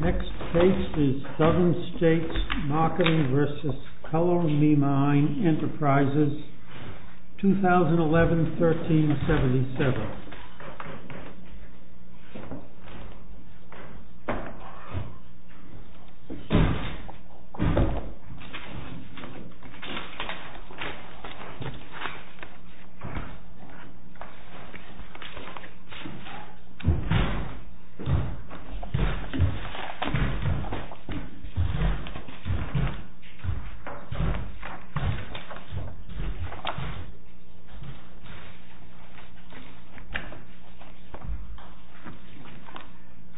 Next case is Southern States Marketing v. Color Me Mine Enterprises, 2011-1377.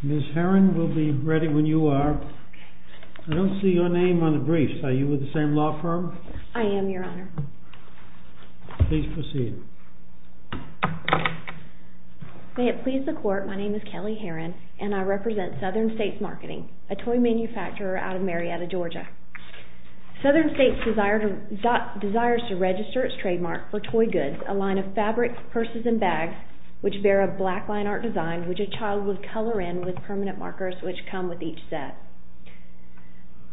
Miss Herron will be ready when you are. I don't see your name on the briefs. Are you with the same law firm? I am, Your Honor. Please proceed. May it please the Court, my name is Kelly Herron and I represent Southern States Marketing, a toy manufacturer out of Marietta, Georgia. Southern States desires to register its trademark for toy goods, a line of fabrics, purses and bags which bear a black line art design which a child would color in with permanent markers which come with each set.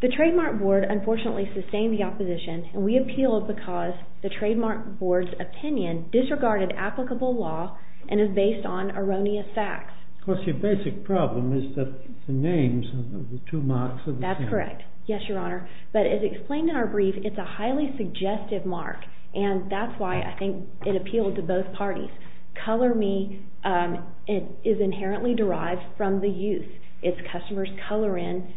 The trademark board unfortunately sustained the opposition and we appealed because the trademark board's opinion disregarded applicable law and is based on erroneous facts. Of course, your basic problem is that the names of the two marks are the same. That's correct, yes, Your Honor. But as explained in our brief, it's a highly suggestive mark and that's why I think it appealed to both parties. Color Me is inherently derived from the use. It's not an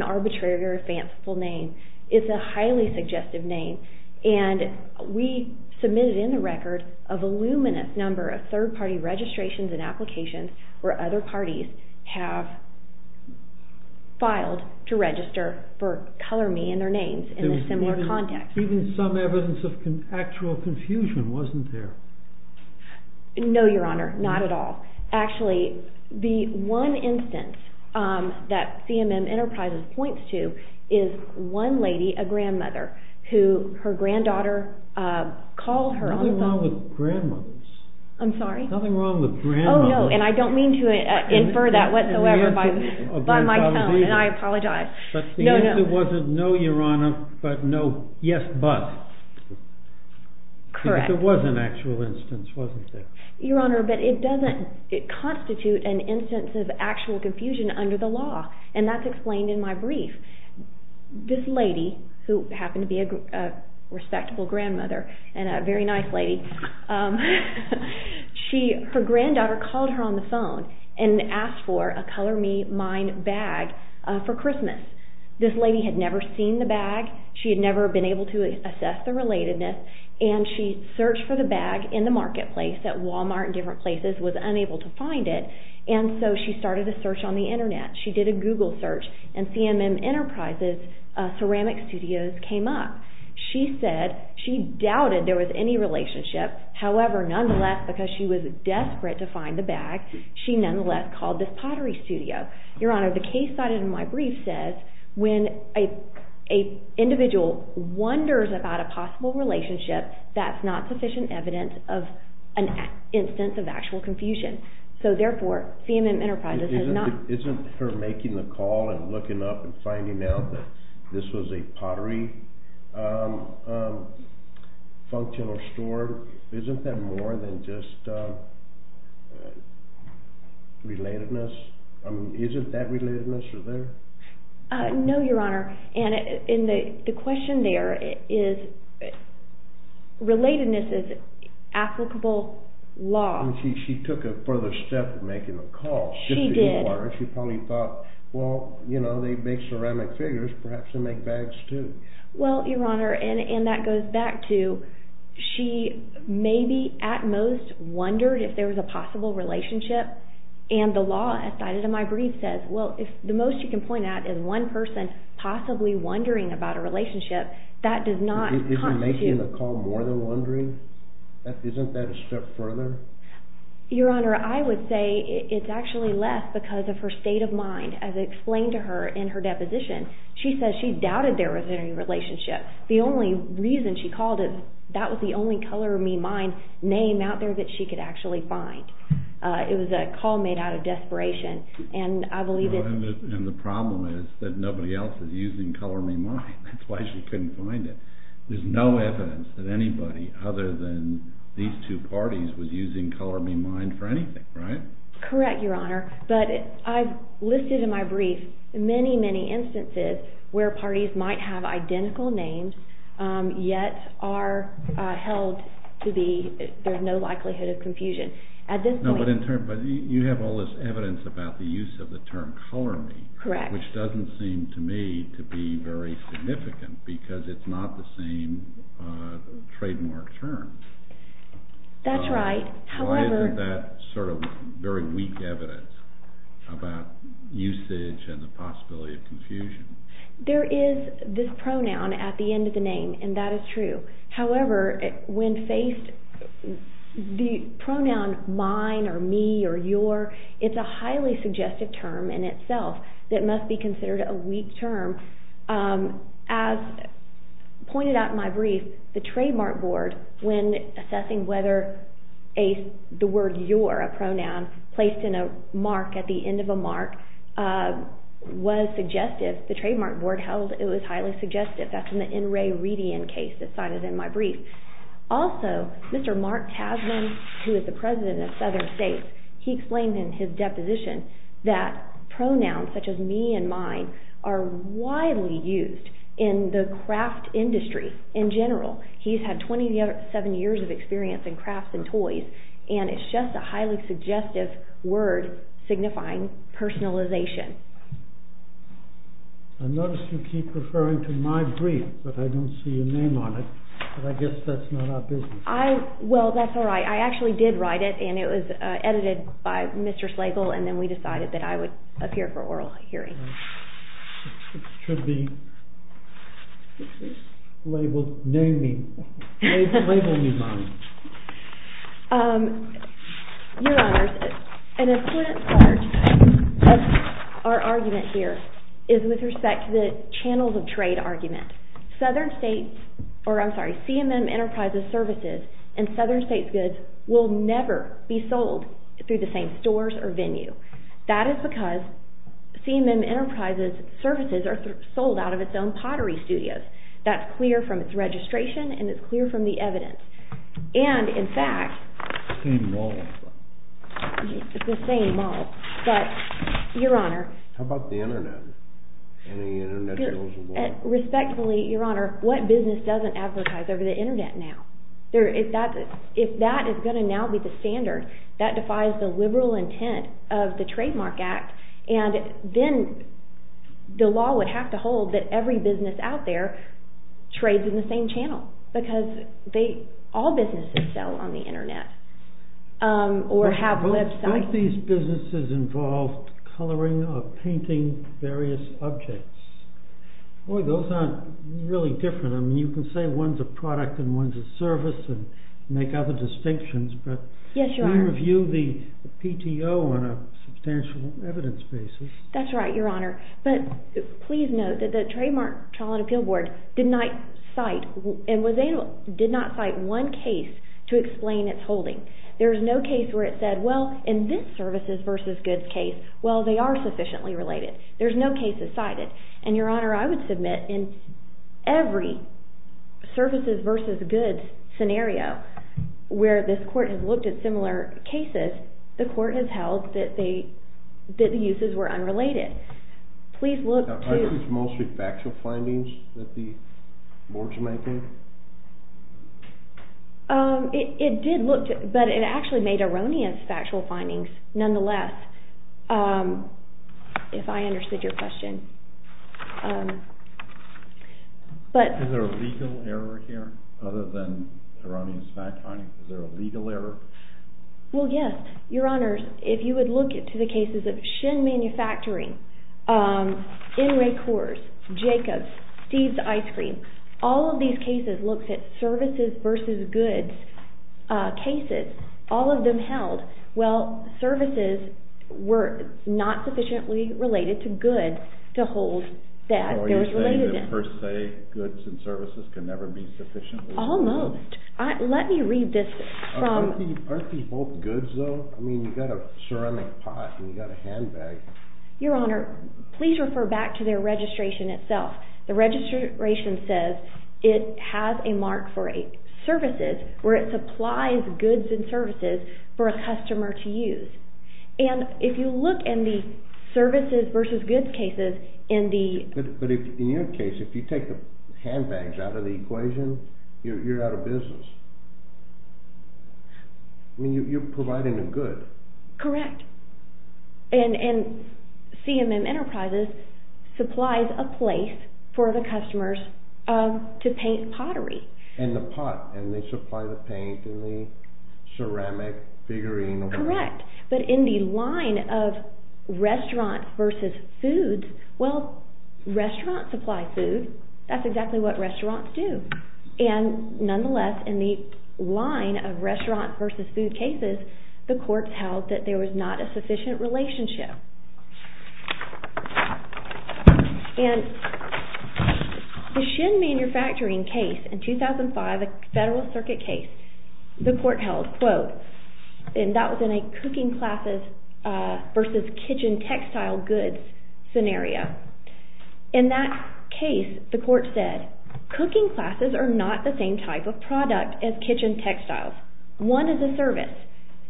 arbitrary or fanciful name. It's a highly suggestive name and we submitted in the record a voluminous number of third party registrations and applications where other parties have filed to register for Color Me and their names in a similar context. Even some evidence of actual confusion wasn't there. No, Your Honor, not at all. Actually, the one instance that CMM Enterprises points to is one lady, a grandmother, who her granddaughter called her on the phone. Nothing wrong with grandmothers. I'm sorry? Nothing wrong with grandmothers. Oh, no, and I don't mean to infer that whatsoever by my tone and I apologize. But the answer wasn't no, Your Honor, but no, yes, but. Correct. There was an actual instance, wasn't there? Your Honor, but it doesn't constitute an instance of actual confusion under the law and that's explained in my brief. This lady, who happened to be a respectable grandmother and a very nice lady, her granddaughter called her on the phone and asked for a Color Me Mine bag for Christmas. This lady had never seen the bag. She had never been able to assess the relatedness and she searched for the bag in the marketplace at Wal-Mart and different places, was unable to find it, and so she started a search on the Internet. She did a Google search and CMM Enterprises Ceramic Studios came up. She said she doubted there was any relationship. However, nonetheless, because she was desperate to find the bag, she nonetheless called this pottery studio. Your Honor, the case cited in my brief says when an individual wonders about a possible relationship, that's not sufficient evidence of an instance of actual confusion. So therefore, CMM Enterprises has not. Isn't her making the call and looking up and finding out that this was a pottery functional store, isn't that more than just relatedness? I mean, isn't that relatedness there? No, Your Honor, and the question there is relatedness is applicable law. She took a further step in making the call. She did. She probably thought, well, you know, they make ceramic figures, perhaps they make bags too. Well, Your Honor, and that goes back to, she maybe at most wondered if there was a possible relationship, and the law cited in my brief says, well, if the most you can point at is one person possibly wondering about a relationship, that does not constitute... Isn't making the call more than wondering? Isn't that a step further? Your Honor, I would say it's actually less because of her state of mind, as explained to her in her deposition. She says she doubted there was any relationship. The only reason she called it, that was the only Color Me Mine name out there that she could actually find. It was a call made out of desperation, and I believe... And the problem is that nobody else is using Color Me Mine. That's why she couldn't find it. There's no evidence that anybody other than these two parties was using Color Me Mine for anything, right? Correct, Your Honor, but I've listed in my brief many, many instances where parties might have identical names, yet are held to be, there's no likelihood of confusion. At this point... No, but in terms, you have all this evidence about the use of the term Color Me, which doesn't seem to me to be very significant because it's not the same trademark term. That's right, Your Honor. However... Why isn't that sort of very weak evidence about usage and the possibility of confusion? There is this pronoun at the end of the name, and that is true. However, when faced, the pronoun mine or me or your, it's a highly suggestive term in itself that must be considered a weak term. As pointed out in my brief, the trademark board, when assessing whether the word your, a pronoun, placed in a mark at the end of a mark was suggestive, the trademark board held it was highly suggestive. That's in the N. Ray Redian case that's cited in my brief. Also, Mr. Mark Tasman, who is the president of Southern States, he explained in his deposition that pronouns such as me and mine are widely used in the craft industry in general. He's had 27 years of experience in crafts and toys, and it's just a highly suggestive word signifying personalization. I notice you keep referring to my brief, but I don't see your name on it, but I guess that's not our business. Well, that's all right. I actually did write it, and it was edited by Mr. Slagle, and then we decided that I would appear for oral hearing. It should be labeled new me, labeled new mine. Your Honors, an important part of our argument here is with respect to the channels of trade argument. Southern States, or I'm sorry, CMM Enterprises Services and Southern States Goods, will never be sold through the same stores or venue. That is because CMM Enterprises Services are sold out of its own pottery studios. That's clear from its registration, and it's clear from the evidence. And, in fact... It's the same mall. It's the same mall. But, Your Honor... How about the Internet? Any Internet sales or what? Respectfully, Your Honor, what business doesn't advertise over the Internet now? If that is going to now be the standard, that defies the liberal intent of the Trademark Act, and then the law would have to hold that every business out there trades in the same channel, because all businesses sell on the Internet or have websites. Both these businesses involve coloring or painting various objects. Boy, those aren't really different. I mean, you can say one's a product and one's a service and make other distinctions, but... Yes, Your Honor. We review the PTO on a substantial evidence basis. That's right, Your Honor. But, please note that the Trademark Trial and Appeal Board did not cite one case to explain its holding. There's no case where it said, well, in this services versus goods case, well, they are sufficiently related. There's no case that every services versus goods scenario where this court has looked at similar cases, the court has held that the uses were unrelated. Please look to... Are these mostly factual findings that the board's making? It did look to... But it actually made erroneous factual findings, nonetheless, if I understood your question. But... Is there a legal error here, other than erroneous factual findings? Is there a legal error? Well, yes. Your Honor, if you would look to the cases of Shinn Manufacturing, In-Ray Coors, Jacobs, Steve's Ice Cream, all of these cases looked at services versus goods cases, all of them held, well, services were not sufficiently related to goods to hold that they were related in. So you're saying that per se, goods and services can never be sufficiently related? Almost. Let me read this from... Aren't these both goods, though? I mean, you've got a ceramic pot and you've got a handbag. Your Honor, please refer back to their registration itself. The registration says it has a mark for services, where it supplies goods and services for a customer to use. And if you look in the services versus goods cases in the... But in your case, if you take the handbags out of the equation, you're out of business. I mean, you're providing a good. Correct. And CMM Enterprises supplies a place for the customers to paint pottery. And the pot, and they supply the paint and the ceramic figurine. Correct. But in the line of restaurants versus foods, well, restaurants supply food. That's exactly what restaurants do. And nonetheless, in the line of restaurants versus food cases, the court held that there was not a sufficient relationship. And the Shin Manufacturing case in 2005, a federal circuit case, the court held, quote, and that was in a cooking classes versus kitchen textile goods scenario. In that case, the court said, cooking classes are not the same type of product as kitchen textiles. One is a service,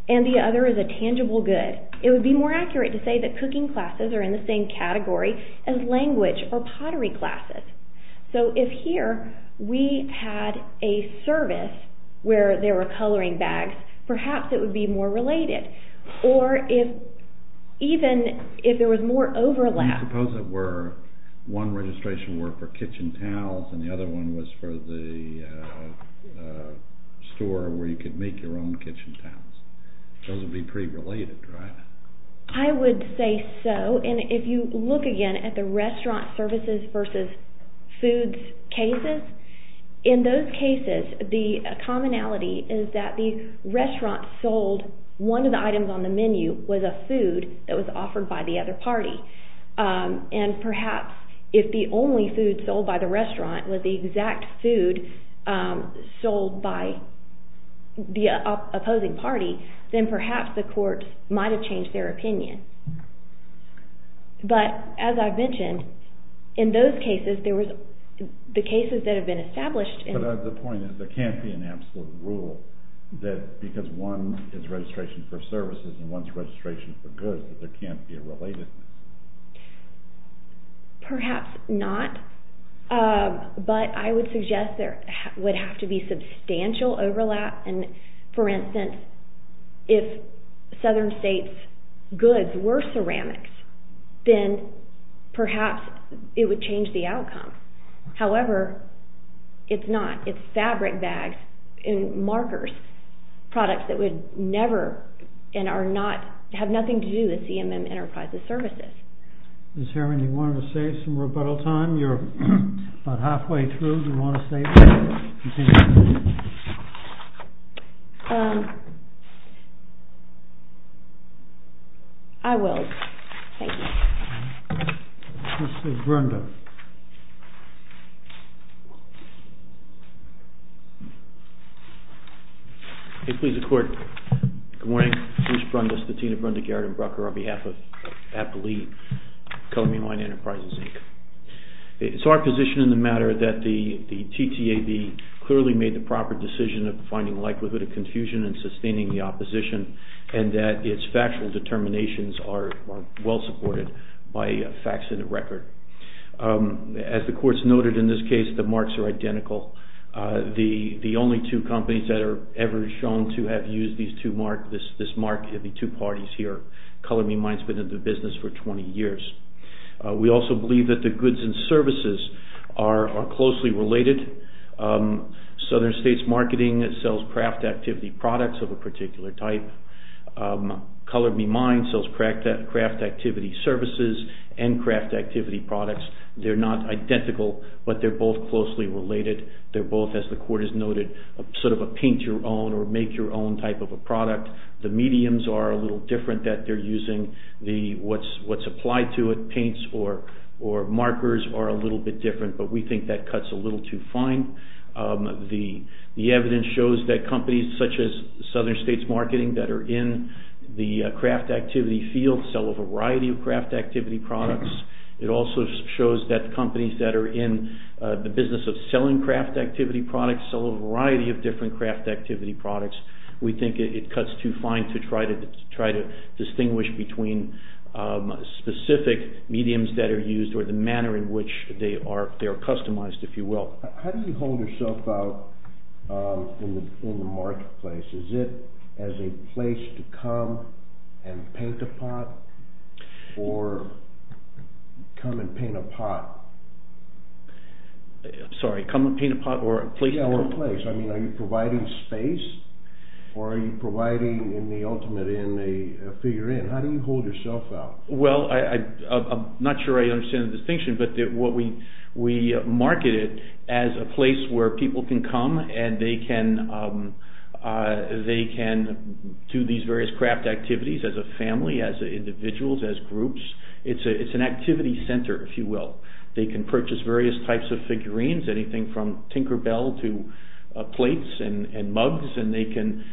and the other is a tangible good. It would be more accurate to say that cooking classes are in the same category as language or pottery classes. So if here, we had a service where there were coloring bags, perhaps it would be more related. Or if even, if there was more overlap... Suppose it were, one registration were for those would be pretty related, right? I would say so. And if you look again at the restaurant services versus foods cases, in those cases, the commonality is that the restaurant sold one of the items on the menu was a food that was offered by the other party. And perhaps if the only food sold by the restaurant was the exact food sold by the opposing party, then perhaps the court might have changed their opinion. But, as I've mentioned, in those cases, the cases that have been established... But the point is, there can't be an absolute rule that because one is registration for perhaps not, but I would suggest there would have to be substantial overlap. And, for instance, if southern states' goods were ceramics, then perhaps it would change the outcome. However, it's not. It's fabric bags and markers, products that would never and are not, have nothing to do with CMM Enterprises Services. Ms. Herring, do you want to say some rebuttal time? You're about halfway through. Do you want to say anything? I will. Thank you. Mr. Brundis. Please, the court. Good morning. Bruce Brundis, the dean of Brundig Yard and Brucker on behalf of APLE, CMM Enterprises Inc. It's our position in the matter that the TTAB clearly made the proper decision of finding likelihood of confusion and sustaining the opposition, and that its facts in the record. As the court's noted in this case, the marks are identical. The only two companies that are ever shown to have used these two marks, this mark, are the two parties here. Color Me Mind's been in the business for 20 years. We also believe that the goods and services are closely related. Southern States Marketing sells craft activity products of a particular type. Color Me Mind sells craft activity services and craft activity products. They're not identical, but they're both closely related. They're both, as the court has noted, sort of a paint your own or make your own type of a product. The mediums are a little different that they're using. What's applied to it, paints or markers, are a little bit different, but we think that cuts a little too fine. The evidence shows that companies such as Southern States Marketing that are in the craft activity field sell a variety of craft activity products. It also shows that companies that are in the business of selling craft activity products sell a variety of different craft activity products. We think it cuts too fine to try to distinguish between specific mediums that are used or the manner in which they are customized, if you will. How do you hold yourself out in the marketplace? Is it as a place to come and paint a pot or come and paint a pot? Sorry, come and paint a pot or a place to come and paint a pot? Yeah, or a place. I mean, are you providing space or are you providing in the ultimate in a figure in? How do you hold yourself out? Well, I'm not sure I understand the distinction, but what we marketed as a place where people can come and they can do these various craft activities as a family, as individuals, as groups. It's an activity center, if you will. They can purchase various types of figurines, anything from Tinker Bell to plates and mugs, and they can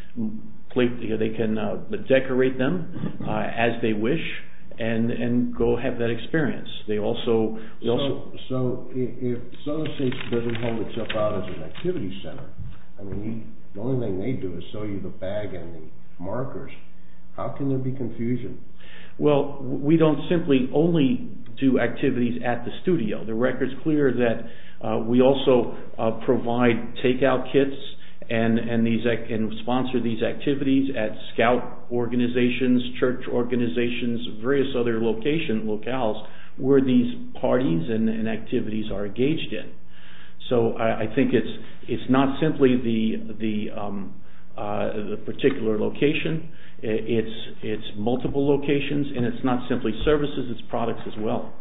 decorate them as they wish and go have that experience. So if Sutter States doesn't hold itself out as an activity center, I mean, the only thing they do is sell you the bag and the markers, how can there be confusion? Well, we don't simply only do activities at the studio. The record's clear that we also provide takeout kits and sponsor these activities at scout organizations, church organizations, various other location, locales, where these parties and activities are engaged in. So I think it's not simply the particular location, it's multiple locations, and it's not simply services, it's products as well.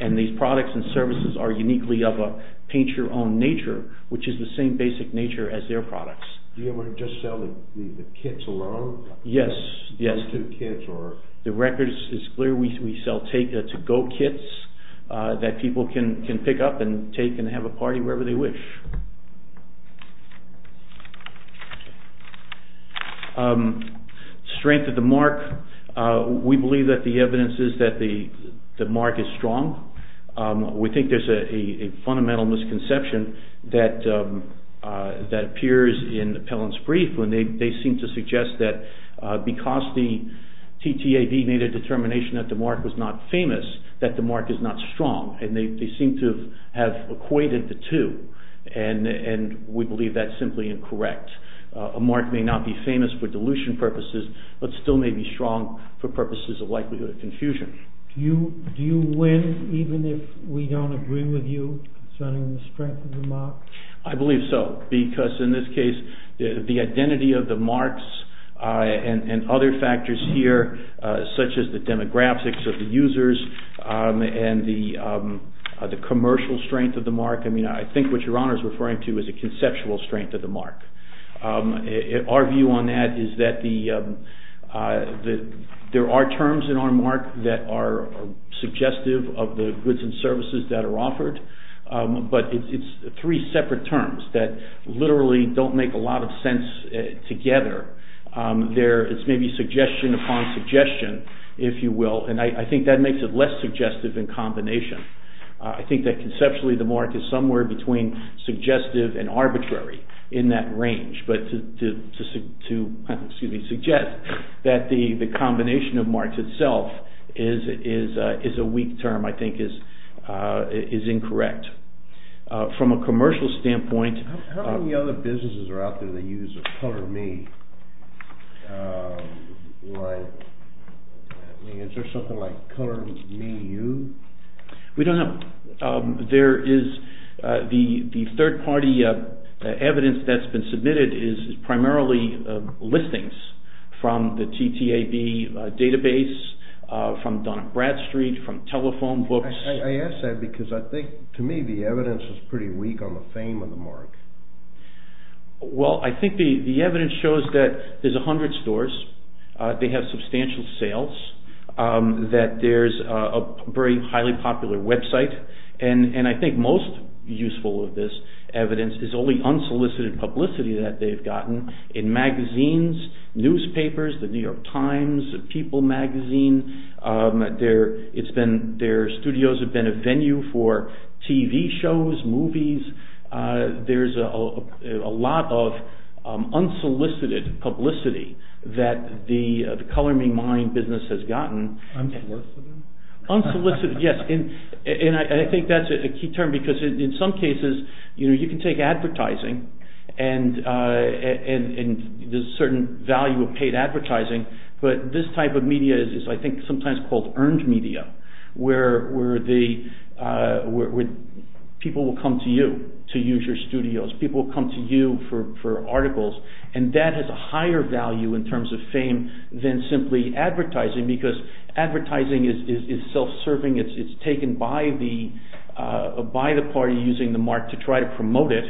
And these products and services are uniquely of a paint-your-own nature, which is the same basic nature as their products. Do you ever just sell the kits alone? Yes, yes. Those two kits or... The record is clear, we sell take-to-go kits that people can pick up and take and have a party wherever they wish. Strength of the mark, we believe that the evidence is that the mark is strong. We think there's a fundamental misconception that appears in the appellant's brief when they seem to suggest that because the TTAB made a determination that the mark was not famous, that the mark is not strong, and they seem to have equated the two, and we believe that's simply incorrect. A mark may not be famous for dilution purposes, but still may be strong for purposes of likelihood of confusion. Do you win even if we don't agree with you concerning the strength of the mark? I believe so, because in this case, the identity of the marks and other factors here, such as the demographics of the users and the commercial strength of the mark, I mean, I think what your Honor is referring to is a conceptual strength of the mark. Our view on that is that there are terms in our mark that are suggestive of the goods and services that it's three separate terms that literally don't make a lot of sense together. It's maybe suggestion upon suggestion, if you will, and I think that makes it less suggestive in combination. I think that conceptually the mark is somewhere between suggestive and arbitrary in that range, but to suggest that the combination of marks itself is a weak term, I think is incorrect. From a commercial standpoint... How many other businesses are out there that use Color Me? Is there something like Color Me You? We don't know. There is the third party evidence that's been submitted is primarily listings from the TTAB database, from Donna Bradstreet, from telephone books. I ask that because I think, to me, the evidence is pretty weak on the fame of the mark. Well, I think the evidence shows that there's a hundred stores. They have substantial sales, that there's a very highly popular website, and I think most useful of this evidence is only unsolicited publicity that they've gotten in magazines, newspapers, the New York Times, People magazine. Their studios have been a venue for TV shows, movies. There's a lot of unsolicited publicity that the Color Me Mine business has gotten. Unsolicited? Unsolicited, yes, and I think that's a key term because in some cases you can take advertising and there's a certain value of paid advertising, but this type of media is I think sometimes called earned media, where people will come to you to use your studios. People will come to you for articles and that has a higher value in terms of fame than simply advertising because advertising is self-serving. It's taken by the party using the mark to try to promote it,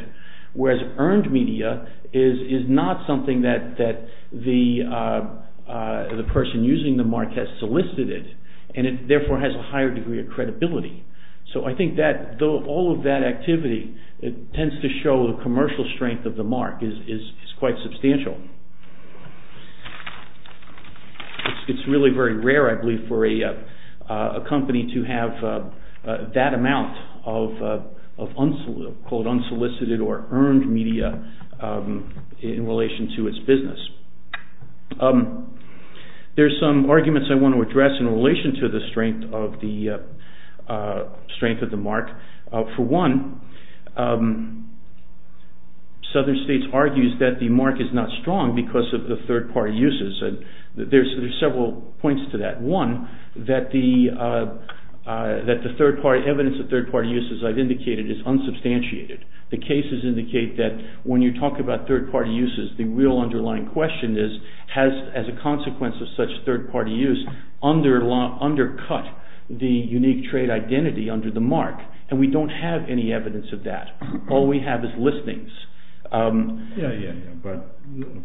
whereas earned media is not something that the person using the mark has solicited it and it therefore has a higher degree of credibility. So I think that all of that activity tends to show the commercial strength of the mark is quite substantial. It's really very rare, I believe, for a company to have that amount of unsolicited or earned media in relation to its business. There's some arguments I want to address in relation to the strength of the mark. For one, Southern States argues that the mark is not strong because of the third party uses. There's several points to that. One, that the evidence of third party uses I've indicated is unsubstantiated. The cases indicate that when you talk about third party uses, the real underlying question is has, as a consequence of such third party use, undercut the unique trade identity under the mark? And we don't have any evidence of that. All we have is listings. Yeah, yeah, yeah. But,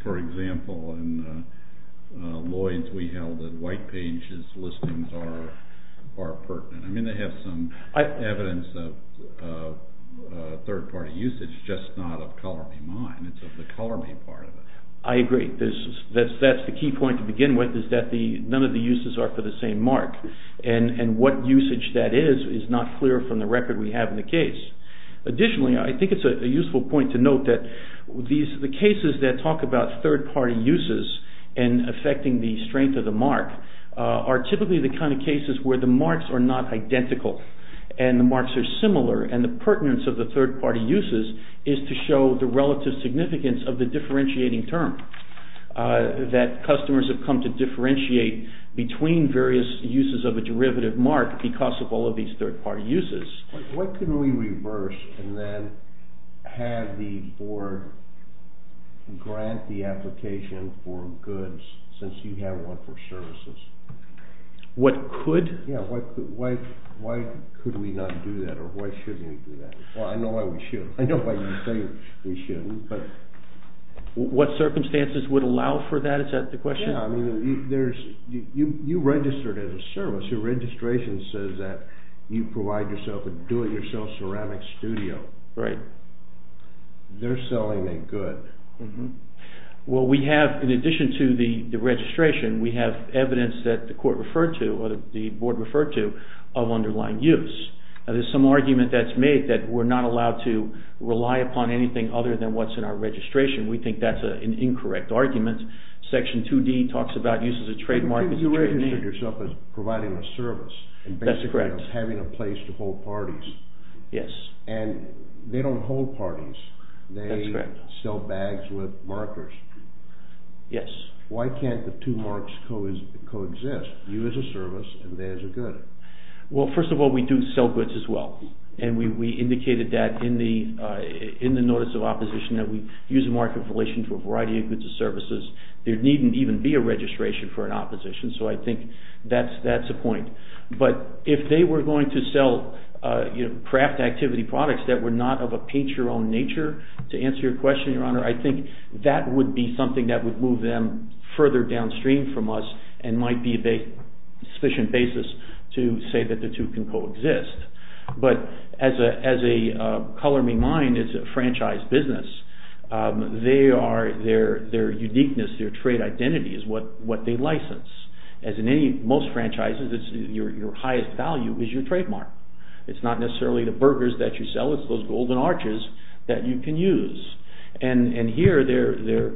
for example, in Lloyd's we held that White Page's listings are pertinent. I mean, they have some evidence of third party usage, just not of Color Me Mine. It's of the Color Me part of it. I agree. That's the key point to begin with is that none of the uses are for the same mark. And what usage that is is not clear from the record we have in the case. Additionally, I think it's a useful point to note that the cases that talk about third party uses and affecting the strength of the mark are typically the kind of cases where the marks are not identical and the marks are similar and the pertinence of the third party uses is to show the relative significance of the differentiating term, that customers have come to differentiate between various uses of a derivative mark because of all of these third party uses. What could we reverse and then have the board grant the application for goods since you have one for services? What could? Yeah, why could we not do that or why shouldn't we do that? Well, I know why we shouldn't. I know why you think we shouldn't, but... What circumstances would allow for that? Is that the question? Yeah, I mean, you registered as a service. Your registration says that you provide yourself a do-it-yourself ceramic studio. Right. They're selling a good. Well, we have, in addition to the registration, we have evidence that the court referred to or the board referred to of underlying use. There's some argument that's made that we're not allowed to rely upon anything other than what's in our registration. We think that's an incorrect argument. Section 2D talks about uses of trademark... Because you registered yourself as providing a service... That's correct. ...and basically as having a place to hold parties. Yes. And they don't hold parties. That's correct. They sell bags with markers. Yes. Why can't the two marks coexist, you as a service and they as a good? Well, first of all, we do sell goods as well, and we indicated that in the notice of opposition that we use a mark in relation to a variety of goods and services. There needn't even be a registration for an opposition, so I think that's a point. But if they were going to sell craft activity products that were not of a paint-your-own nature, to answer your question, Your Honor, I think that would be something that would move them further downstream from us and might be a sufficient basis to say that the two can coexist. But as a Color Me Mine is a franchise business, their uniqueness, their trade identity is what they license. As in most franchises, your highest value is your trademark. It's not necessarily the burgers that you sell, it's those golden arches that you can use. And here their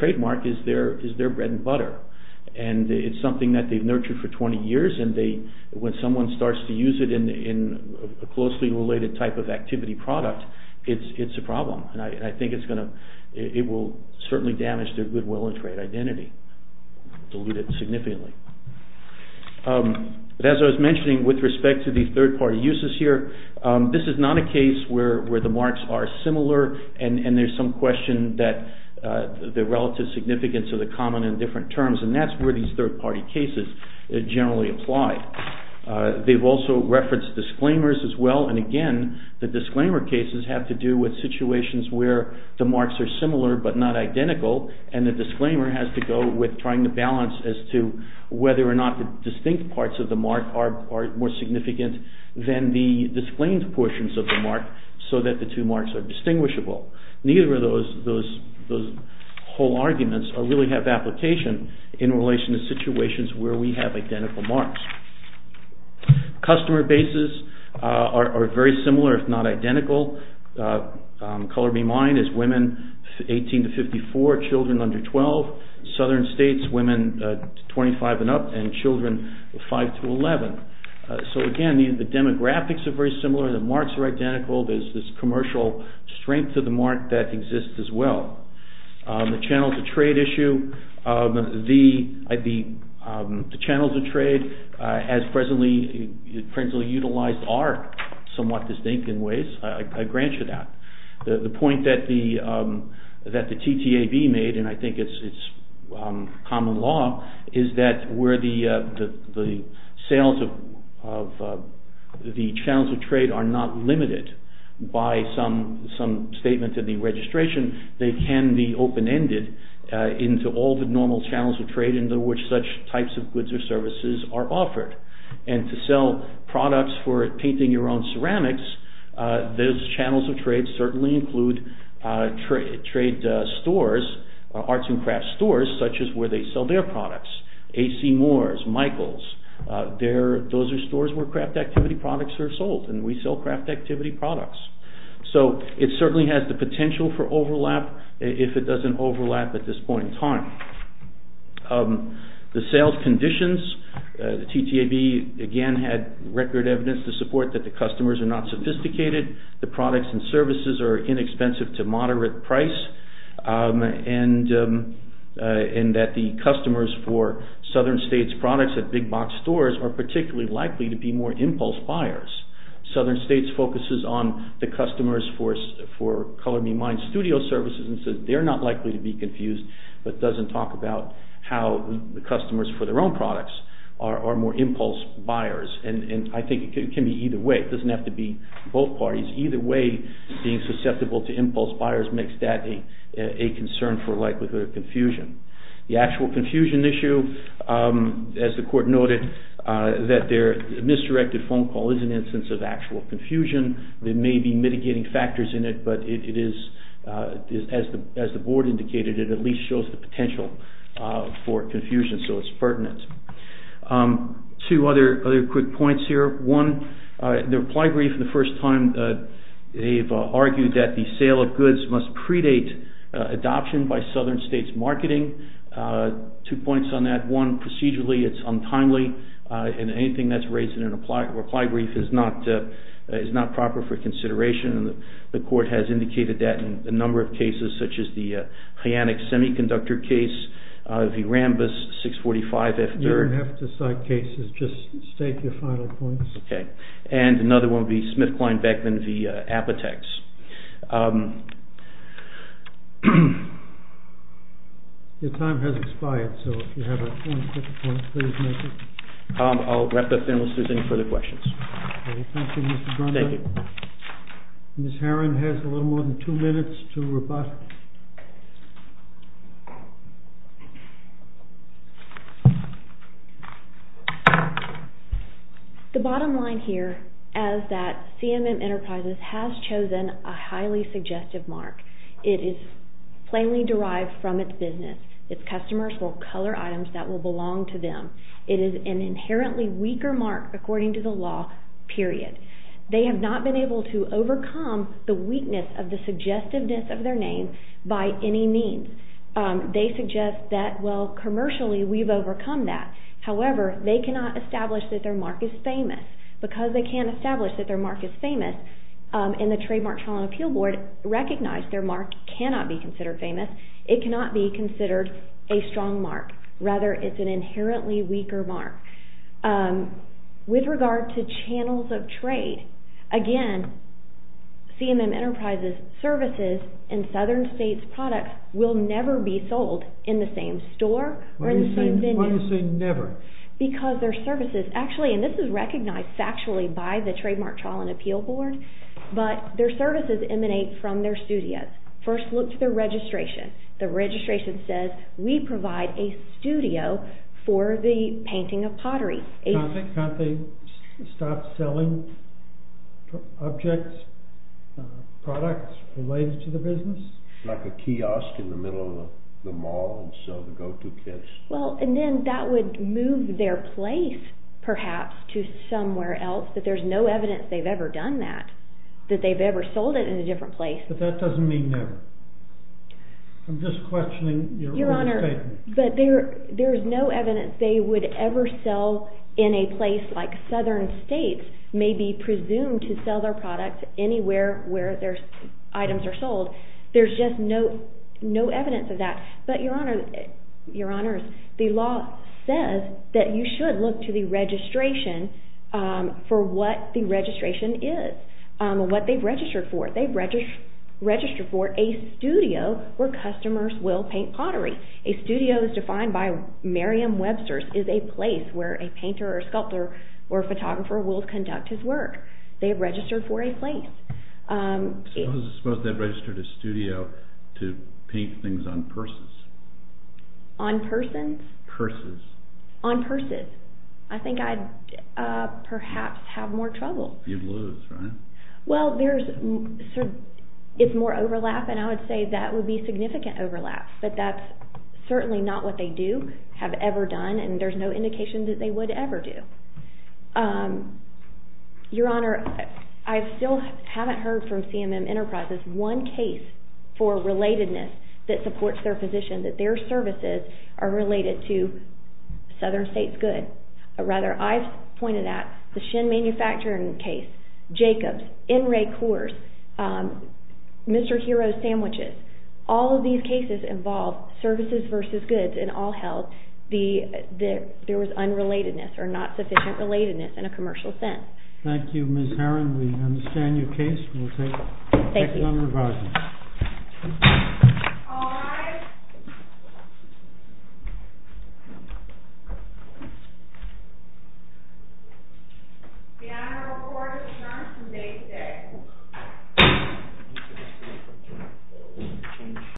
trademark is their bread and butter. And it's something that they've nurtured for 20 years and when someone starts to use it in a closely related type of activity product, it's a problem. And I think it will certainly damage their goodwill and trade identity, dilute it significantly. But as I was mentioning with respect to the third-party uses here, this is not a case where the marks are similar and there's some question that the relative significance of the common and different terms, and that's where these third-party cases generally apply. They've also referenced disclaimers as well, and again, the disclaimer cases have to do with situations where the marks are similar but not identical and the disclaimer has to go with trying to balance as to whether or not the distinct parts of the mark are more significant than the disclaimed portions of the mark so that the two marks are distinguishable. Neither of those whole arguments really have application in relation to situations where we have identical marks. Customer bases are very similar if not identical. Color me mine is women 18 to 54, children under 12. Southern states, women 25 and up and children 5 to 11. So again, the demographics are very similar, the marks are identical, there's this commercial strength to the mark that exists as well. The channels of trade issue, the channels of trade as presently utilized are somewhat distinct in ways, I grant you that. The point that the TTAB made, and I think it's common law, is that where the sales of the channels of trade are not limited by some statement in the registration, they can be open-ended into all the normal channels of trade into which such types of goods or services are offered. And to sell products for painting your own ceramics, those channels of trade certainly include trade stores, arts and crafts stores, such as where they sell their products. A.C. Moore's, Michael's, those are stores where craft activity products are sold and we sell craft activity products. So it certainly has the potential for overlap if it doesn't overlap at this point in time. The sales conditions, the TTAB again had record evidence to support that the customers are not sophisticated, the products and services are inexpensive to moderate price and that the customers for southern states products at big box stores are particularly likely to be more impulse buyers. Southern states focuses on the customers for Color Me Mine studio services and says they're not likely to be confused, but doesn't talk about how the customers for their own products are more impulse buyers. And I think it can be either way. It doesn't have to be both parties. Either way, being susceptible to impulse buyers makes that a concern for likelihood of confusion. The actual confusion issue, as the court noted, that their misdirected phone call is an instance of actual confusion. They may be mitigating factors in it, but it is, as the board indicated, it at least shows the potential for confusion, so it's pertinent. Two other quick points here. One, the reply brief for the first time, they've argued that the sale of goods must predate adoption by southern states marketing. Two points on that. One, procedurally it's untimely, and anything that's raised in a reply brief is not proper for consideration. The court has indicated that in a number of cases, such as the Hyannix Semiconductor case, the Rambus 645, You don't have to cite cases, just state your final points. And another one would be SmithKline-Beckman v. Apotex. Your time has expired, so if you have one quick point, please make it. I'll wrap up then, unless there's any further questions. Thank you, Mr. Brunson. Ms. Herron has a little more than two minutes to rebut. The bottom line here is that CMM Enterprises has chosen a highly suggestive mark. It is plainly derived from its business. Its customers will color items that will belong to them. It is an inherently weaker mark, according to the law, period. They have not been able to overcome the weakness of the suggestiveness of their name by any means. They suggest that, well, commercially we've overcome that. However, they cannot establish that their mark is famous. Because they can't establish that their mark is famous, and the Trademark Trial and Appeal Board recognized their mark cannot be considered famous, it cannot be considered a strong mark. Rather, it's an inherently weaker mark. With regard to channels of trade, again, CMM Enterprises' services and Southern States' products will never be sold in the same store or in the same venue. Why do you say never? Because their services... Actually, and this is recognized factually by the Trademark Trial and Appeal Board, but their services emanate from their studios. First look to their registration. The registration says, we provide a studio for the painting of pottery. Can't they stop selling objects, products related to the business? Like a kiosk in the middle of the mall and sell the go-to kits? Well, and then that would move their place, perhaps, to somewhere else. But there's no evidence they've ever done that, that they've ever sold it in a different place. But that doesn't mean never. I'm just questioning your own statement. Your Honor, but there's no evidence they would ever sell in a place like Southern States, maybe presumed to sell their products anywhere where their items are sold. There's just no evidence of that. But, Your Honor, the law says that you should look to the registration for what the registration is, what they've registered for. They've registered for a studio where customers will paint pottery. A studio is defined by Merriam-Webster's is a place where a painter or sculptor or photographer will conduct his work. They've registered for a place. Suppose they've registered a studio to paint things on purses. Purses. On purses. I think I'd perhaps have more trouble. You'd lose, right? Well, there's more overlap, and I would say that would be significant overlap. But that's certainly not what they do, have ever done, and there's no indication that they would ever do. Your Honor, I still haven't heard from CMM Enterprises. There was one case for relatedness that supports their position, that their services are related to Southern States Good. Rather, I've pointed out the Shin Manufacturing case, Jacobs, N. Ray Coors, Mr. Hero's Sandwiches. All of these cases involve services versus goods in all health. There was unrelatedness or not sufficient relatedness in a commercial sense. Thank you, Ms. Heron. We understand your case. Thank you, Your Honor. Thank you. All rise. Your Honor, the court is adjourned from day six.